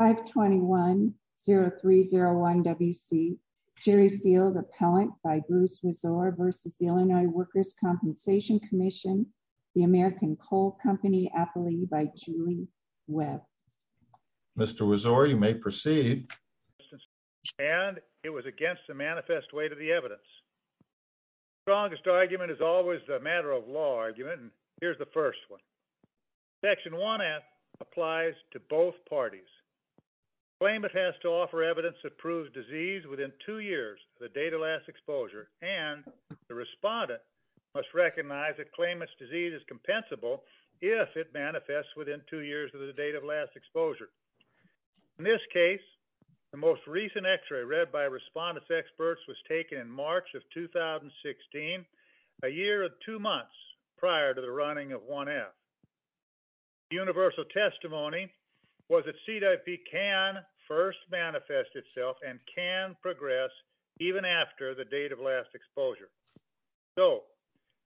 521-0301-WC, Jerry Field, Appellant by Bruce Rizor versus the Illinois Workers' Compensation Comm'n, the American Coal Company, Appellee by Julie Webb. Mr. Rizor, you may proceed. And it was against the manifest way to the evidence. The strongest argument is always the matter of law argument, and here's the first one. Section 1S applies to both parties. Claimant has to offer evidence to prove disease within two years of the date of last exposure, and the respondent must recognize that claimant's disease is compensable if it manifests within two years of the date of last exposure. In this case, the most recent x-ray read by respondent's experts was taken in March of 2016, a year and two months prior to the running of 1F. Universal testimony was that CWP can first manifest itself and can progress even after the date of last exposure. So,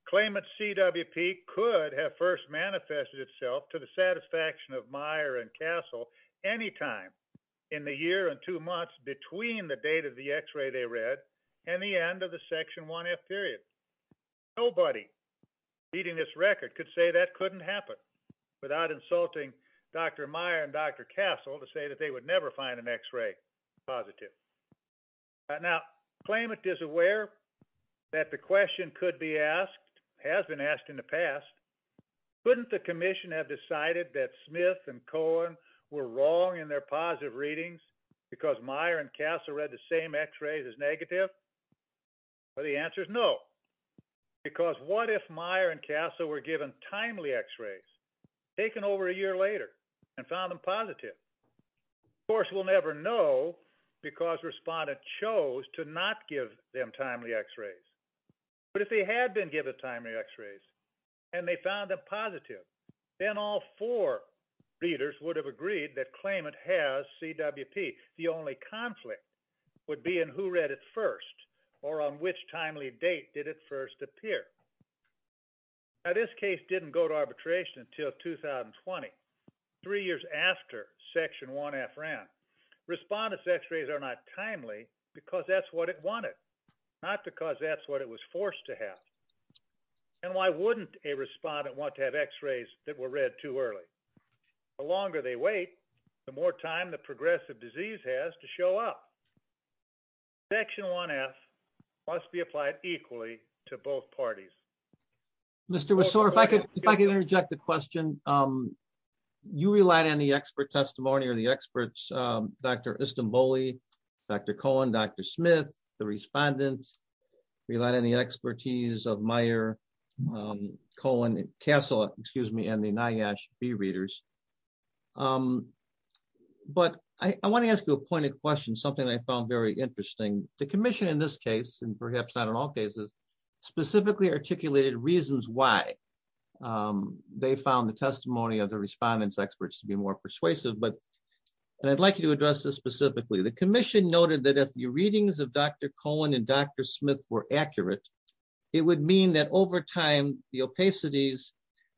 claimant's CWP could have first manifested itself to the satisfaction of Meyer and Castle any time in the year and two months between the date of the x-ray they read and the end of the Section 1F period. Nobody beating this record could say that couldn't happen without insulting Dr. Meyer and Dr. Castle to say that they would never find an x-ray positive. Now, claimant is aware that the question could be asked, has been asked in the past, couldn't the commission have decided that Smith and Cohen were wrong in their positive readings because Meyer and Castle read the same x-rays as negative? Well, the answer is no, because what if Meyer and Castle were given timely x-rays taken over a year later and found them positive? Of course, we'll never know because respondent chose to not give them timely x-rays. But if they had been given timely x-rays and they found them positive, then all four readers would have agreed that claimant has CWP. The only conflict would be in who read it first or on which timely date did it first appear. Now, this case didn't go to arbitration until 2020, three years after Section 1F ran. Respondent's x-rays are not timely because that's what it wanted, not because that's what it was that were read too early. The longer they wait, the more time the progressive disease has to show up. Section 1F must be applied equally to both parties. Mr. Messore, if I could interject a question, you relied on the expert testimony or the experts, Dr. Istanbuli, Dr. Cohen, Dr. Smith, the respondents relied on the expertise of Meyer, Cohen, Castle, excuse me, and the NIOSH B readers. But I want to ask you a point of question, something I found very interesting. The commission in this case, and perhaps not in all cases, specifically articulated reasons why they found the testimony of the respondents experts to be more persuasive. But I'd like you to address this specifically. The commission noted that if readings of Dr. Cohen and Dr. Smith were accurate, it would mean that over time the opacities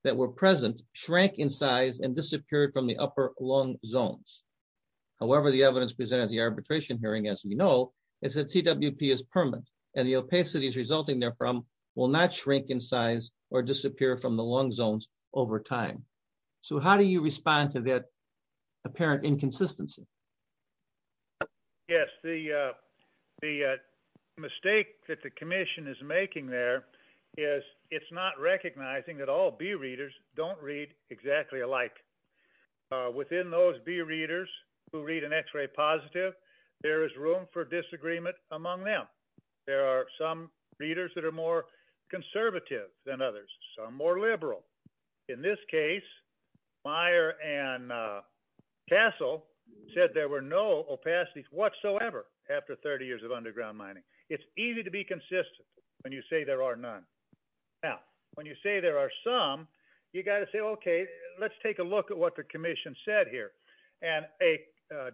that were present shrank in size and disappeared from the upper lung zones. However, the evidence presented at the arbitration hearing, as we know, is that CWP is permanent, and the opacities resulting therefrom will not shrink in size or disappear from the lung zones over time. So how do you respond to that apparent inconsistency? Yes, the mistake that the commission is making there is it's not recognizing that all B readers don't read exactly alike. Within those B readers who read an x-ray positive, there is room for disagreement among them. There are some readers that are more conservative than others, some more opacities. It's easy to be consistent when you say there are none. Now, when you say there are some, you've got to say, okay, let's take a look at what the commission said here. And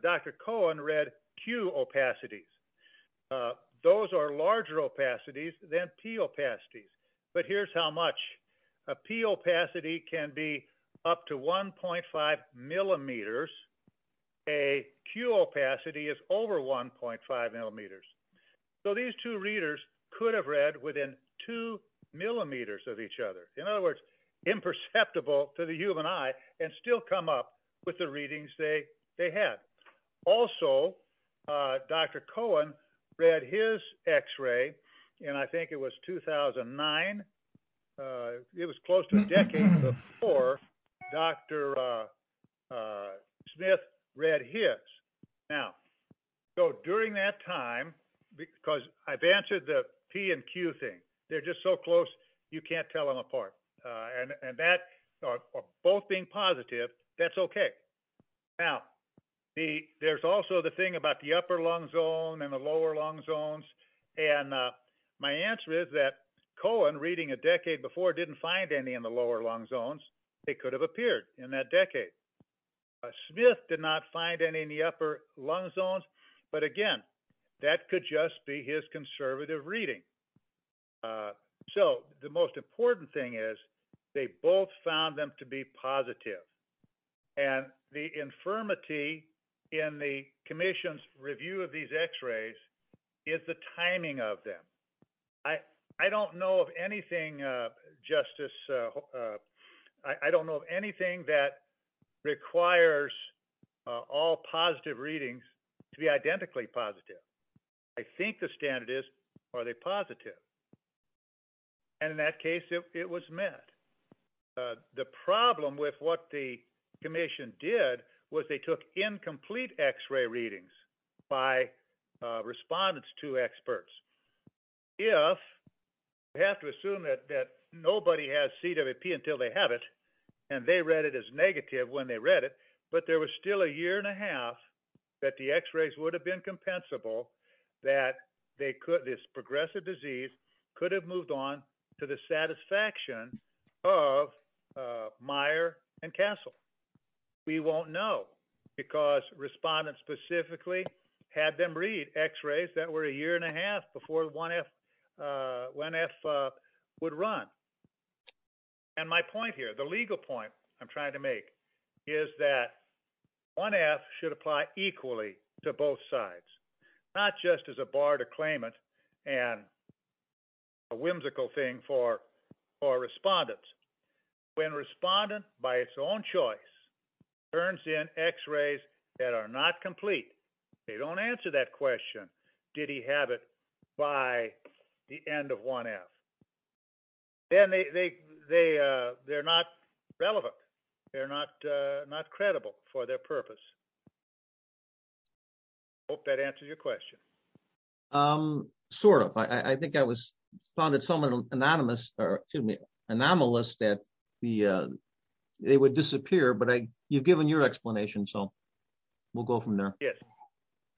Dr. Cohen read Q opacities. Those are larger opacities than P opacities. But here's how much. A P opacity can be up to 1.5 millimeters. A Q opacity is over 1.5 millimeters. So these two readers could have read within two millimeters of each other. In other words, imperceptible to the human eye and still come up with the readings they had. Also, Dr. Cohen read his x-ray, and I think it was 2009. It was close to a decade before Dr. Smith read his. Now, so during that time, because I've answered the P and Q thing. They're just so close, you can't tell them apart. And that, both being positive, that's okay. Now, there's also the thing about the upper lung zone and the lower lung zones. And my answer is that Cohen, reading a decade before, didn't find any in the lower lung zones. They could have appeared in that decade. Smith did not find any in the upper lung zones. But again, that could just be his conservative reading. So the most important thing is, they both found them to be positive. And the infirmity in the commission's review of these x-rays is the timing of them. I don't know of anything, Justice, I don't know of anything that requires all positive readings to be identically positive. I think the standard is, are they positive? And in that case, it was met. The problem with what the complete x-ray readings by respondents to experts, if we have to assume that nobody has CWP until they have it, and they read it as negative when they read it, but there was still a year and a half that the x-rays would have been compensable, that this progressive disease could have moved on to the satisfaction of Meyer and Castle. We won't know, because respondents specifically had them read x-rays that were a year and a half before 1F would run. And my point here, the legal point I'm trying to make is that 1F should apply equally to both sides, not just as a bar to claim it and a whimsical thing for respondents. When a respondent, by its own choice, turns in x-rays that are not complete, they don't answer that question, did he have it by the end of 1F? Then they're not relevant. They're not credible for their purpose. I hope that answers your question. Sort of. I think I found it somewhat anomalous that they would disappear, but you've given your explanation, so we'll go from there. Yes.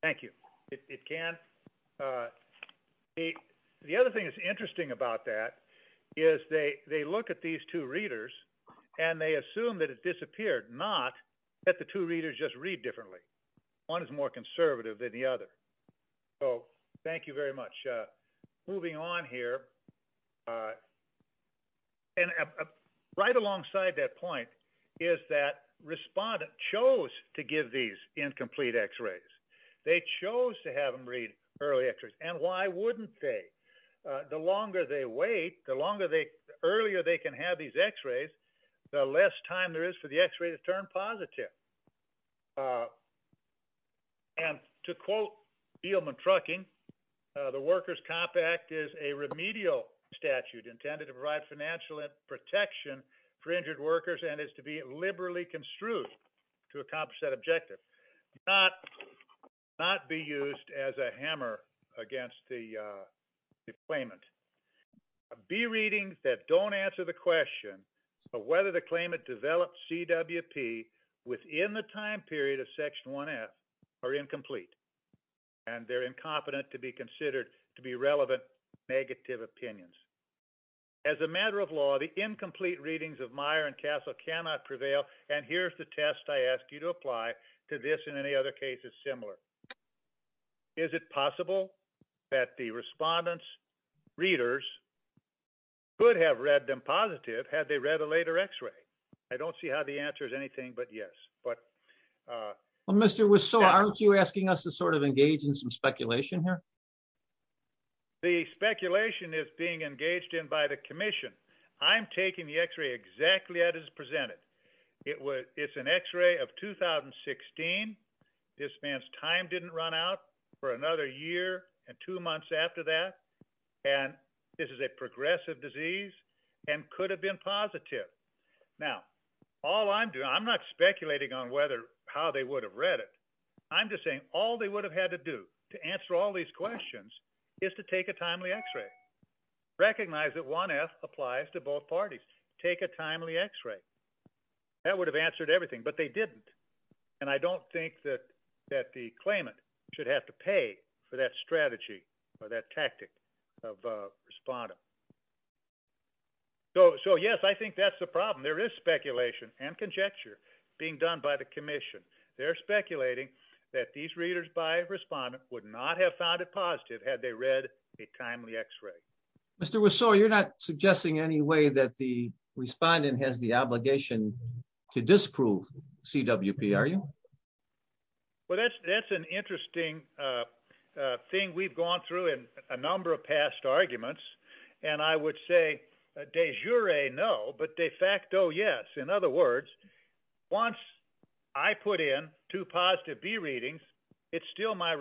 Thank you. It can. The other thing that's interesting about that is they look at these two not that the two readers just read differently. One is more conservative than the other. So thank you very much. Moving on here, right alongside that point is that respondents chose to give these incomplete x-rays. They chose to have them read early x-rays. And why wouldn't they? The longer they wait, the earlier they can have these x-rays, the less time there is for the x-ray to turn positive. And to quote Beelman Trucking, the Workers Compact is a remedial statute intended to provide financial protection for injured workers and is to be liberally construed to accomplish that objective, not be used as a hammer against the B readings that don't answer the question of whether the claimant developed CWP within the time period of Section 1F are incomplete and they're incompetent to be considered to be relevant negative opinions. As a matter of law, the incomplete readings of Meyer and Castle cannot prevail. And here's the test I ask you to apply to this and any other cases similar. Is it possible that the respondents readers could have read them positive had they read a later x-ray? I don't see how the answer is anything but yes, but. Well, Mr. Wiseau, aren't you asking us to sort of engage in some speculation here? The speculation is being engaged in by the commission. I'm taking the x-ray exactly as presented. It's an x-ray of 2016. This man's time didn't run out for another year and two months after that. And this is a progressive disease and could have been positive. Now, all I'm doing, I'm not speculating on whether how they would have read it. I'm just saying all they would have had to do to answer all these questions is to take a timely x-ray. Recognize that 1F applies to both parties. Take a timely x-ray. That would have answered everything, but they didn't. And I don't think that that the claimant should have to pay for that strategy or that tactic of respondent. So yes, I think that's the problem. There is speculation and conjecture being done by the commission. They're speculating that these Mr. Wiseau, you're not suggesting any way that the respondent has the obligation to disprove CWP, are you? Well, that's an interesting thing we've gone through in a number of past arguments. And I would say de jure, no, but de facto, yes. In other words, once I put in two positive B readings, it's still my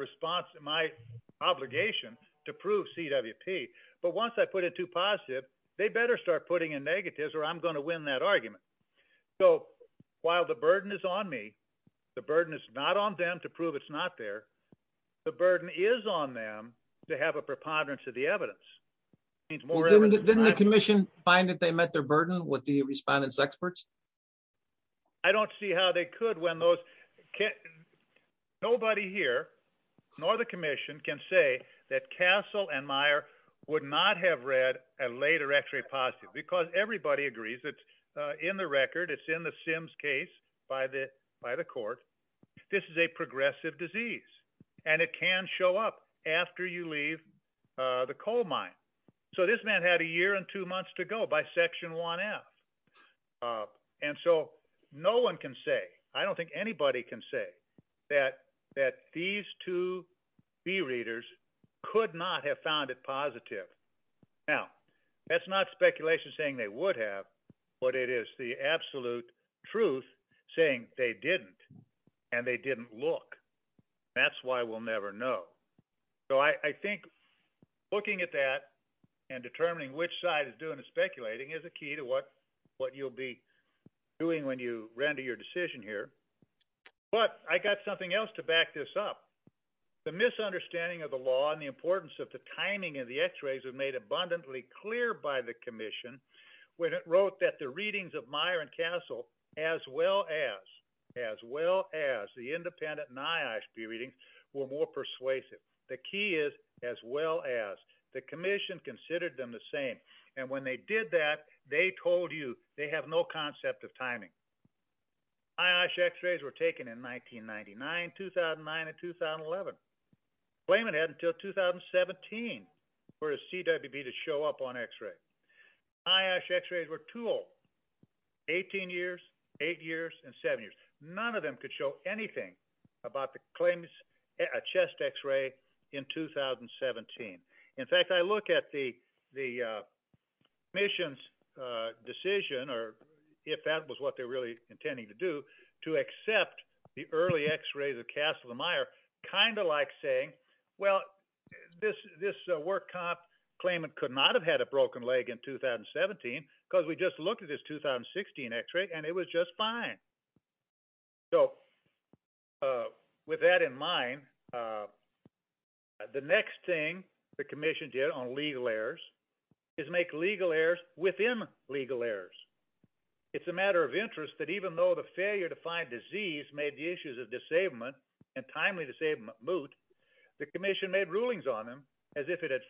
obligation to prove CWP. But once I put in two positive, they better start putting in negatives or I'm going to win that argument. So while the burden is on me, the burden is not on them to prove it's not there. The burden is on them to have a preponderance of the evidence. Didn't the commission find that they met their burden with respondents experts? I don't see how they could when nobody here, nor the commission can say that Castle and Meyer would not have read a later x-ray positive because everybody agrees that in the record, it's in the Sims case by the court. This is a progressive disease, and it can show up after you leave the coal mine. So this man had a year and two months to go by and he's coming up with a new claim against Section 1F. And so no one can say, I don't think anybody can say, that these two B readers could not have found it positive. Now, that's not speculation saying they would have, but it is the absolute truth saying they didn't and they didn't look. That's why we'll never know. So I think looking at that and determining which side is doing the speculating is a key to what you'll be doing when you render your decision here. But I got something else to back this up. The misunderstanding of the law and the importance of the timing of the x-rays was made abundantly clear by the commission when it wrote that the independent NIOSH B readings were more persuasive. The key is, as well as, the commission considered them the same. And when they did that, they told you they have no concept of timing. NIOSH x-rays were taken in 1999, 2009, and 2011. Claimant had until 2017 for a CWB to show up on about the claims, a chest x-ray in 2017. In fact, I look at the commission's decision, or if that was what they were really intending to do, to accept the early x-rays of Castle and Meyer, kind of like saying, well, this work comp claimant could not have had a broken leg in 2017 because we just looked at this 2016 x-ray, and it was just fine. So with that in mind, the next thing the commission did on legal errors is make legal errors within legal errors. It's a matter of interest that even though the failure to find disease made the issues of disablement and timely disablement moot, the commission made rulings on them as if it had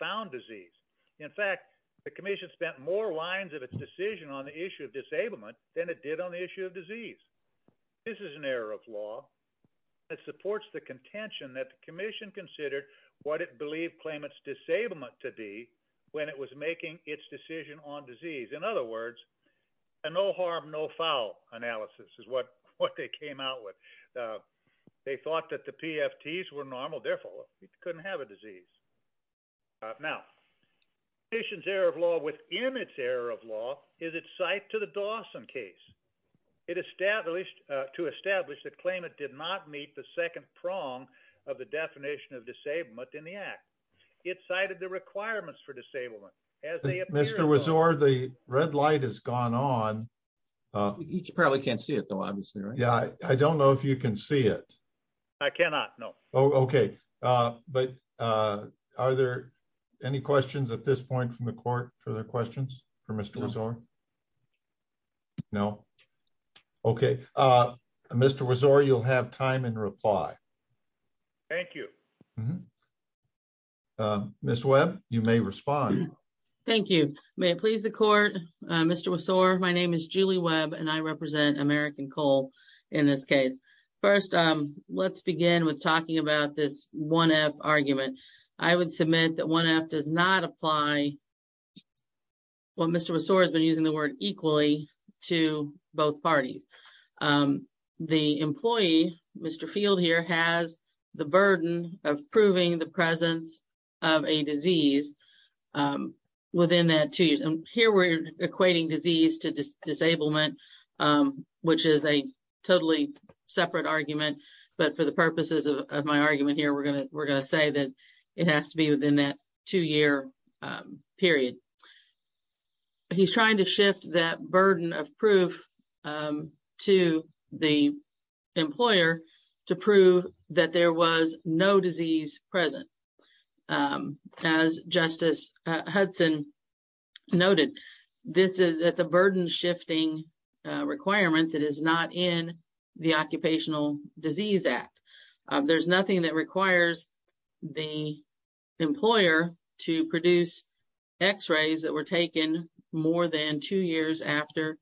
its decision on the issue of disablement than it did on the issue of disease. This is an error of law that supports the contention that the commission considered what it believed claimant's disablement to be when it was making its decision on disease. In other words, a no harm, no foul analysis is what they came out with. They thought that the PFTs were normal, therefore, it couldn't have a disease. Now, the commission's error of law within its error of law is its site to the Dawson case. It established, to establish that claimant did not meet the second prong of the definition of disablement in the act. It cited the requirements for disablement. As they appear- Mr. Wiseau, the red light has gone on. You probably can't see it though, obviously, right? Yeah, I don't know if you can see it. I cannot, no. Okay. But are there any questions at this point from the court for their questions for Mr. Wiseau? No. Okay. Mr. Wiseau, you'll have time and reply. Thank you. Ms. Webb, you may respond. Thank you. May it please the court, Mr. Wiseau, my name is Julie Webb and I represent American in this case. First, let's begin with talking about this 1F argument. I would submit that 1F does not apply, well, Mr. Wiseau has been using the word equally to both parties. The employee, Mr. Field here, has the burden of proving the presence of a disease within that two years. Here, we're equating disease to disablement, which is a totally separate argument, but for the purposes of my argument here, we're going to say that it has to be within that two-year period. He's trying to shift that burden of proof to the employer to prove that there was no disease present. As Justice Hudson noted, that's a burden-shifting requirement that is not in the Occupational Disease Act. There's nothing that requires the employer to produce x-rays that were taken more than two years after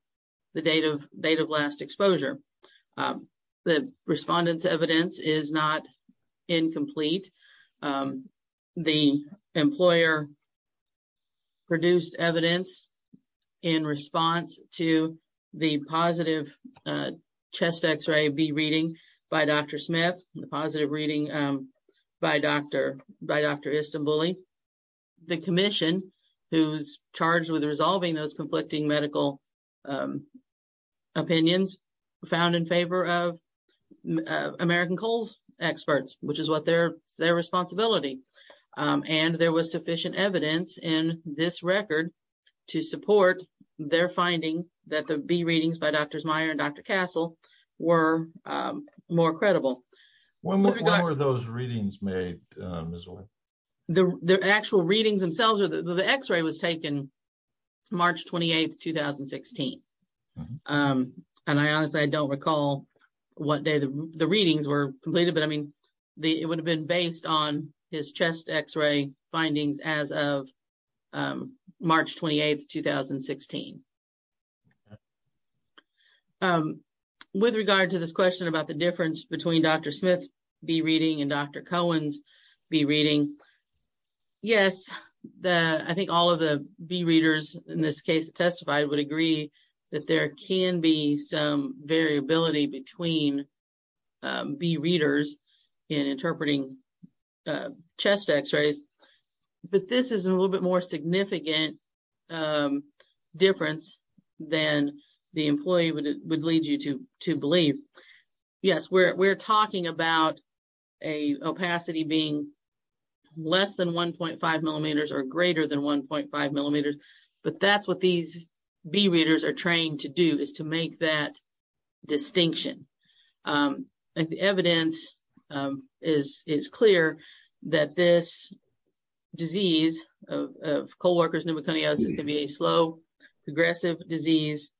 the date of last exposure. The respondent's evidence is not incomplete. The employer produced evidence in response to the positive chest x-ray be reading by Dr. Smith, the positive reading by Dr. Istanbuli. The commission, who's charged with their responsibility, and there was sufficient evidence in this record to support their finding that the be readings by Dr. Smyer and Dr. Castle were more credible. When were those readings made? The actual readings themselves, the x-ray was taken March 28, 2016. Honestly, I don't recall what day the readings were completed, but it would have been based on his chest x-ray findings as of March 28, 2016. With regard to this question about the difference between Dr. Smith's be reading and Dr. Cohen's be reading, yes, I think all of the be readers in this case testified would agree that there can be some variability between be readers in interpreting chest x-rays, but this is a little bit more significant difference than the employee would lead you to believe. Yes, we're talking about a opacity being less than 1.5 millimeters or less. That's what these be readers are trained to do, is to make that distinction. The evidence is clear that this disease of Coleworkers' pneumoconiosis can be a slow, progressive disease,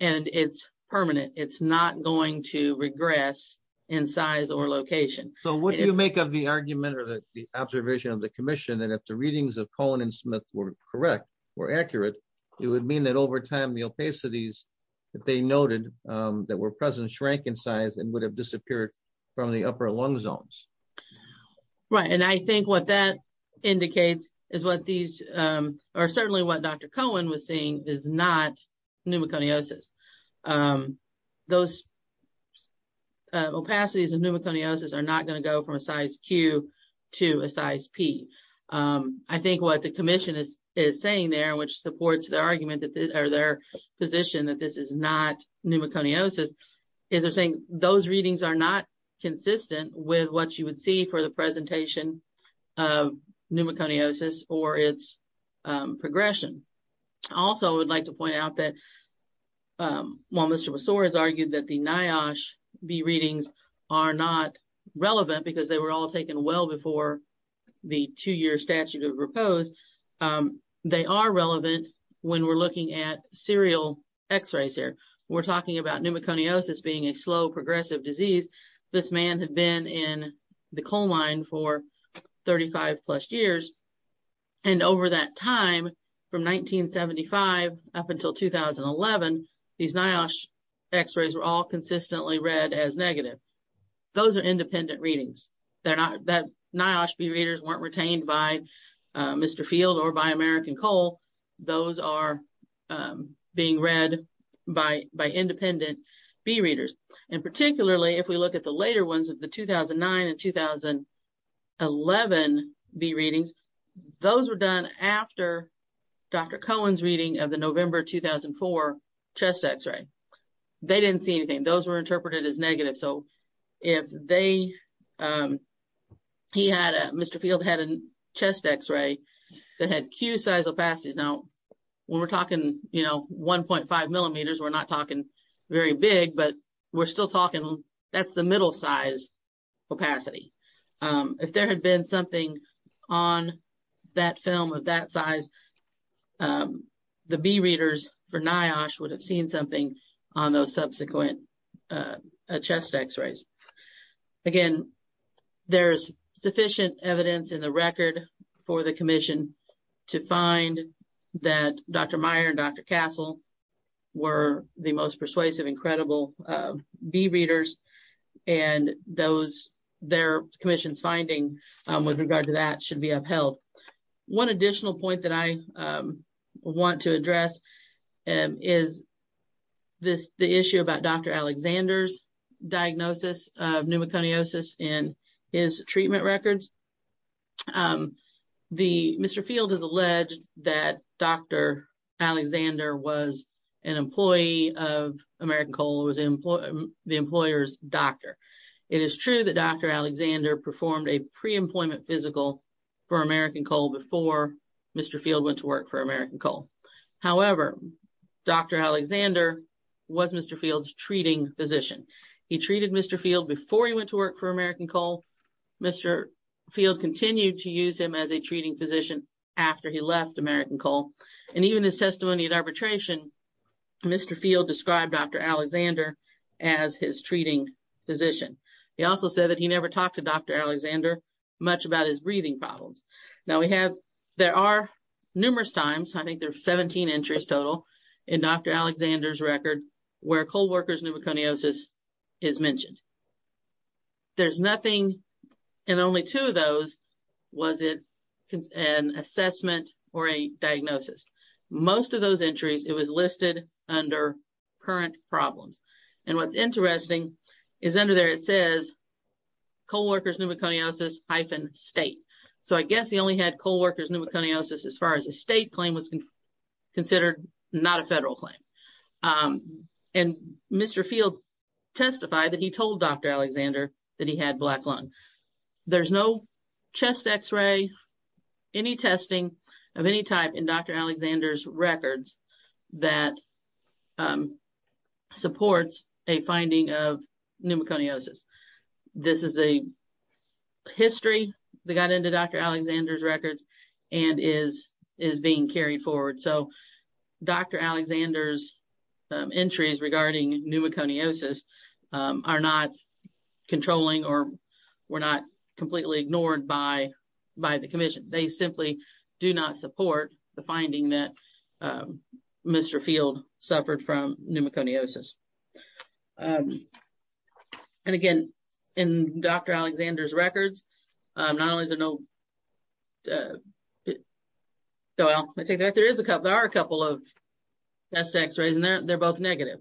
and it's permanent. It's not going to regress in size or location. What do you make of the argument or the observation of the commission that if the readings of Cohen and Smith were correct, were accurate, it would mean that over time the opacities that they noted that were present shrank in size and would have disappeared from the upper lung zones? Right, and I think what that indicates is what these, or certainly what Dr. Cohen was seeing, is not pneumoconiosis. Those opacities of pneumoconiosis are not going to go from a size Q to a size P. I think what the commission is saying there, which supports their argument or their position that this is not pneumoconiosis, is they're saying those readings are not consistent with what you would see for the presentation of pneumoconiosis or its progression. Also, I would like to point out that while Mr. Besore has argued that the NIOSH B readings are not relevant because they were all taken well before the two-year statute of proposed, they are relevant when we're looking at serial x-rays here. We're talking about pneumoconiosis being a slow, progressive disease. This man had been in the coal mine for 35-plus years, and over that time, from 1975 up until 2011, these NIOSH x-rays were all consistently read as negative. Those are independent readings. The NIOSH B readers weren't retained by Mr. Field or by American Coal. Those are being read by independent B readers, and particularly if we look at the later ones, the 2009 and 2011 B readings, those were done after Dr. Cohen's reading of the November 2004 chest x-ray. They didn't see anything. Those were interpreted as negative. So, if they, he had, Mr. Field had a chest x-ray that had Q size opacities. Now, when we're talking, you know, 1.5 millimeters, we're not talking very big, but we're still talking, that's the middle size opacity. If there had been something on that film of that size, the B readers for NIOSH would have seen something on those subsequent chest x-rays. Again, there's sufficient evidence in the record for the commission to find that Dr. Meyer and Dr. Castle were the most persuasive and credible B readers, and those, their commission's finding with regard to that should be upheld. One additional point that I want to address is this, the issue about Dr. Alexander's diagnosis of pneumoconiosis in his treatment records. The, Mr. Field has alleged that Dr. Alexander was an employee of American Coal, was the employer's doctor. It is true that Dr. Alexander performed a pre-employment physical for American Coal before Mr. Field went to work for American Coal. However, Dr. Alexander was Mr. Field's treating physician. He treated Mr. Field before he went to work for American Coal. Mr. Field continued to use him as a treating physician after he left American Coal, and even his testimony at arbitration, Mr. Field described Dr. Alexander as his treating physician. He also said that he never talked to numerous times, I think there's 17 entries total in Dr. Alexander's record where co-workers' pneumoconiosis is mentioned. There's nothing, and only two of those, was it an assessment or a diagnosis. Most of those entries, it was listed under current problems, and what's interesting is under there it says co-workers' pneumoconiosis hyphen state. So, I guess he only had co-workers' pneumoconiosis as far as a state claim was considered, not a federal claim, and Mr. Field testified that he told Dr. Alexander that he had black lung. There's no chest x-ray, any testing of any type in Dr. Alexander's records that supports a finding of pneumoconiosis. This is a history that got into Dr. Alexander's records and is being carried forward. So, Dr. Alexander's entries regarding pneumoconiosis are not controlling or were not completely ignored by the commission. They simply do not support the finding that Mr. Field suffered from pneumoconiosis. And again, in Dr. Alexander's records, not only is there no, so I'll take that, there is a couple, there are a couple of chest x-rays and they're both negative,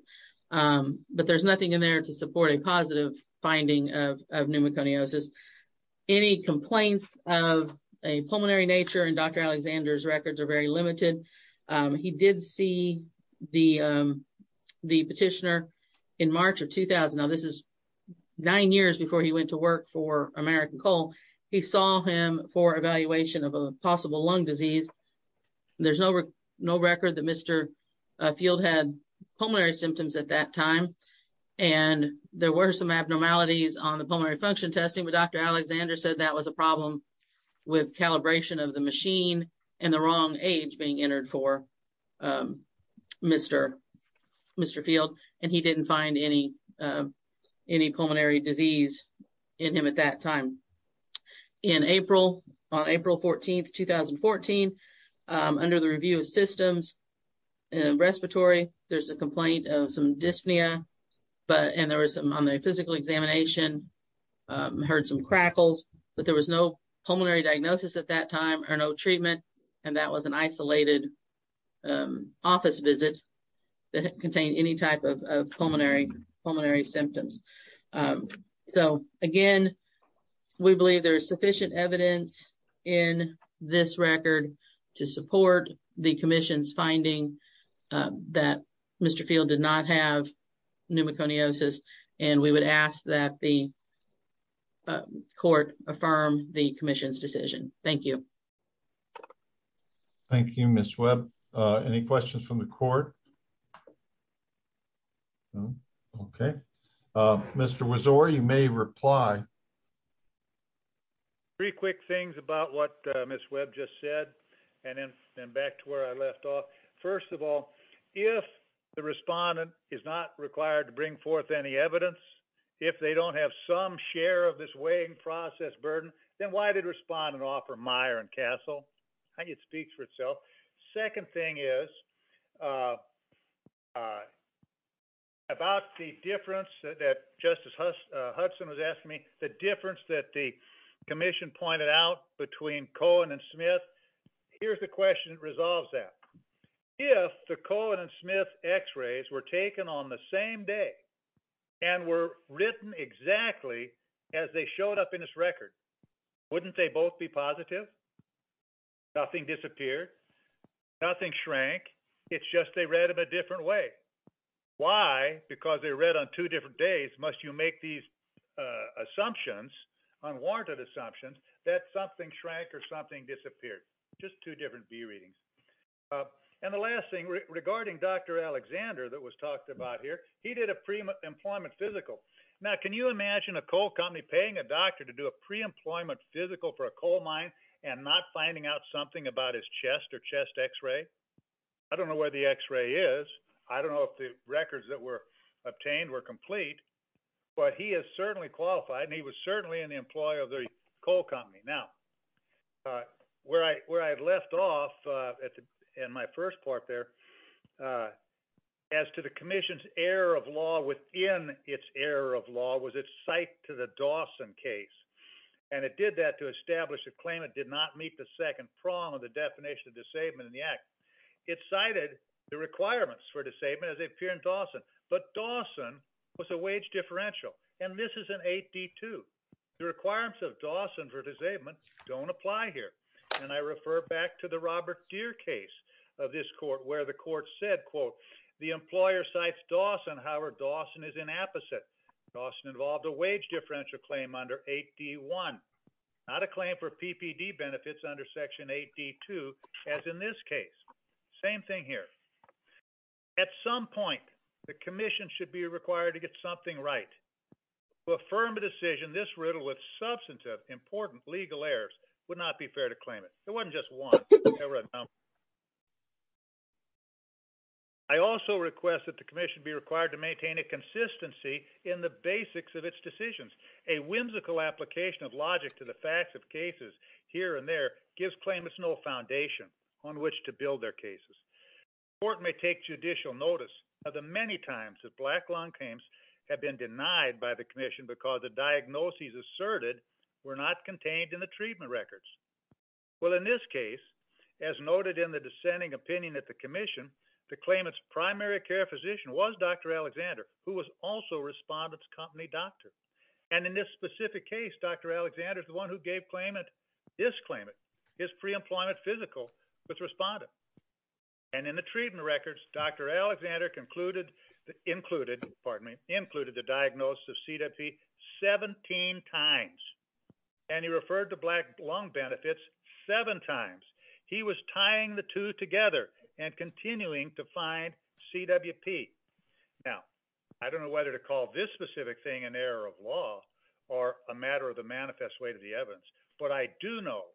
but there's nothing in there to support a positive finding of pneumoconiosis. Any complaints of a pneumoconiosis, the petitioner in March of 2000, now this is nine years before he went to work for American Coal, he saw him for evaluation of a possible lung disease. There's no record that Mr. Field had pulmonary symptoms at that time. And there were some abnormalities on the pulmonary function testing, but Dr. Alexander said that was a problem with calibration of the machine and the wrong age being entered for Mr. Field. And he didn't find any pulmonary disease in him at that time. In April, on April 14th, 2014, under the review of systems and respiratory, there's a complaint of some dyspnea, and there was some on the physical examination, heard some crackles, but there was no pulmonary diagnosis at that time or no treatment. And that was an isolated office visit that contained any type of pulmonary symptoms. So again, we believe there is sufficient evidence in this record to support the commission's finding that Mr. Field did not have pneumoconiosis, and we would ask that the Thank you, Ms. Webb. Any questions from the court? Okay. Mr. Wozor, you may reply. Three quick things about what Ms. Webb just said, and then back to where I left off. First of all, if the respondent is not required to bring forth any evidence, if they don't have some share of this weighing process burden, then why did respondent offer Meyer and Castle? I think it speaks for itself. Second thing is, about the difference that Justice Hudson was asking me, the difference that the commission pointed out between Cohen and Smith, here's the question that resolves that. If the Cohen and Smith x-rays were taken on the same day and were written exactly as they showed up in this record, wouldn't they both be positive? Nothing disappeared, nothing shrank, it's just they read them a different way. Why? Because they're read on two different days, must you make these assumptions, unwarranted assumptions, that something shrank or something disappeared? Just two different B readings. And the last thing, regarding Dr. Alexander that was talked about here, he did a pre-employment physical. Now, can you imagine a coal company paying a doctor to do a pre-employment physical for a coal mine and not finding out something about his chest or chest x-ray? I don't know where the x-ray is, I don't know if the records that were obtained were complete, but he is certainly qualified and he was certainly an employee of the coal company. Now, where I left off in my first part there, as to the commission's error of law within its error of law was its cite to the Dawson case, and it did that to establish a claim it did not meet the second prong of the definition of disablement in the act. It cited the requirements for disablement as they appear in Dawson, but Dawson was a wage differential, and this is an 8D2. The requirements of Dawson for disablement don't apply here, and I refer back to the Robert Deere case of this court where the court said, quote, the employer cites Dawson, however, Dawson is inapposite. Dawson involved a wage differential claim under 8D1, not a claim for PPD benefits under section 8D2 as in this case. Same thing here. At some point, the commission should be important legal errors would not be fair to claim it. It wasn't just one. I also request that the commission be required to maintain a consistency in the basics of its decisions. A whimsical application of logic to the facts of cases here and there gives claimants no foundation on which to build their cases. The court may take judicial notice of the many times that black lung claims have been denied by the commission because the diagnoses asserted were not contained in the treatment records. Well, in this case, as noted in the dissenting opinion at the commission, the claimant's primary care physician was Dr. Alexander, who was also Respondent's company doctor, and in this specific case, Dr. Alexander is the one who gave this claimant his preemployment physical with Respondent. And in the treatment records, Dr. Alexander included the diagnosis of CWP 17 times. And he referred to black lung benefits seven times. He was tying the two together and continuing to find CWP. Now, I don't know whether to call this specific thing an error of law or a matter of the manifest way to the evidence, but I do know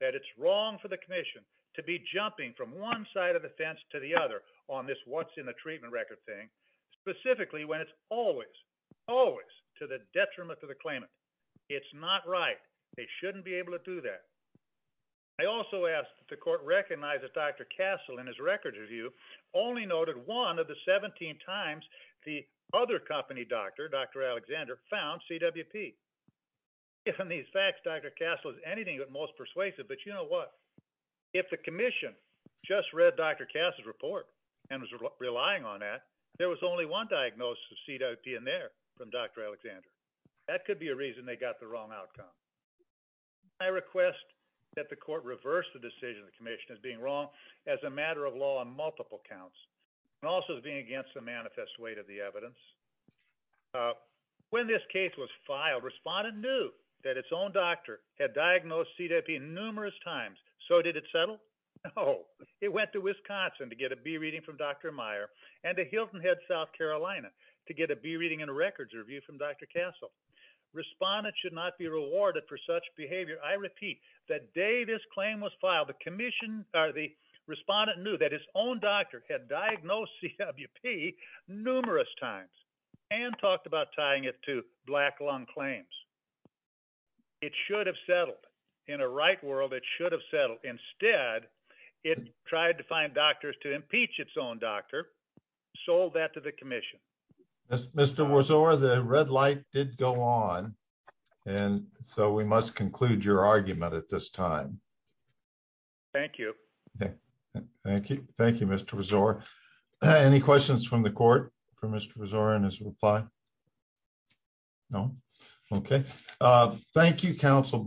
that it's wrong for the commission to be jumping from one side of the fence to the other on this what's in the treatment record thing, specifically when it's always, always to the detriment to the claimant. It's not right. They shouldn't be able to do that. I also ask that the court recognize that Dr. Castle, in his records review, only noted one of the 17 times the other company doctor, Dr. Alexander, found CWP. Given these facts, Dr. Castle is anything but most persuasive, but you know what? If the commission just read Dr. Castle's report and was relying on that, there was only one diagnosis of CWP in there from Dr. Alexander. That could be a reason they got the wrong outcome. I request that the court reverse the decision the commission is being wrong as a matter of law on multiple counts and also as being against the manifest way to the evidence. When this case was filed, respondent knew that its own doctor had diagnosed CWP numerous times. So did it settle? No. It went to Wisconsin to get a B reading from Dr. Meyer and to Hilton Head, South Carolina to get a B reading in a records review from Dr. Castle. Respondent should not be rewarded for such behavior. I repeat, the day this claim was filed, the commission, the respondent knew that his own doctor had diagnosed CWP numerous times and talked about tying it to black lung claims. It should have settled. In a right world, it should have settled. Instead, it tried to find doctors to impeach its own doctor, sold that to the commission. Mr. Wazor, the red light did go on, and so we must conclude your argument at this time. Thank you. Thank you. Thank you, Mr. Wazor. Any questions from the court for Mr. Wazor in his reply? No? Okay. Thank you, counsel.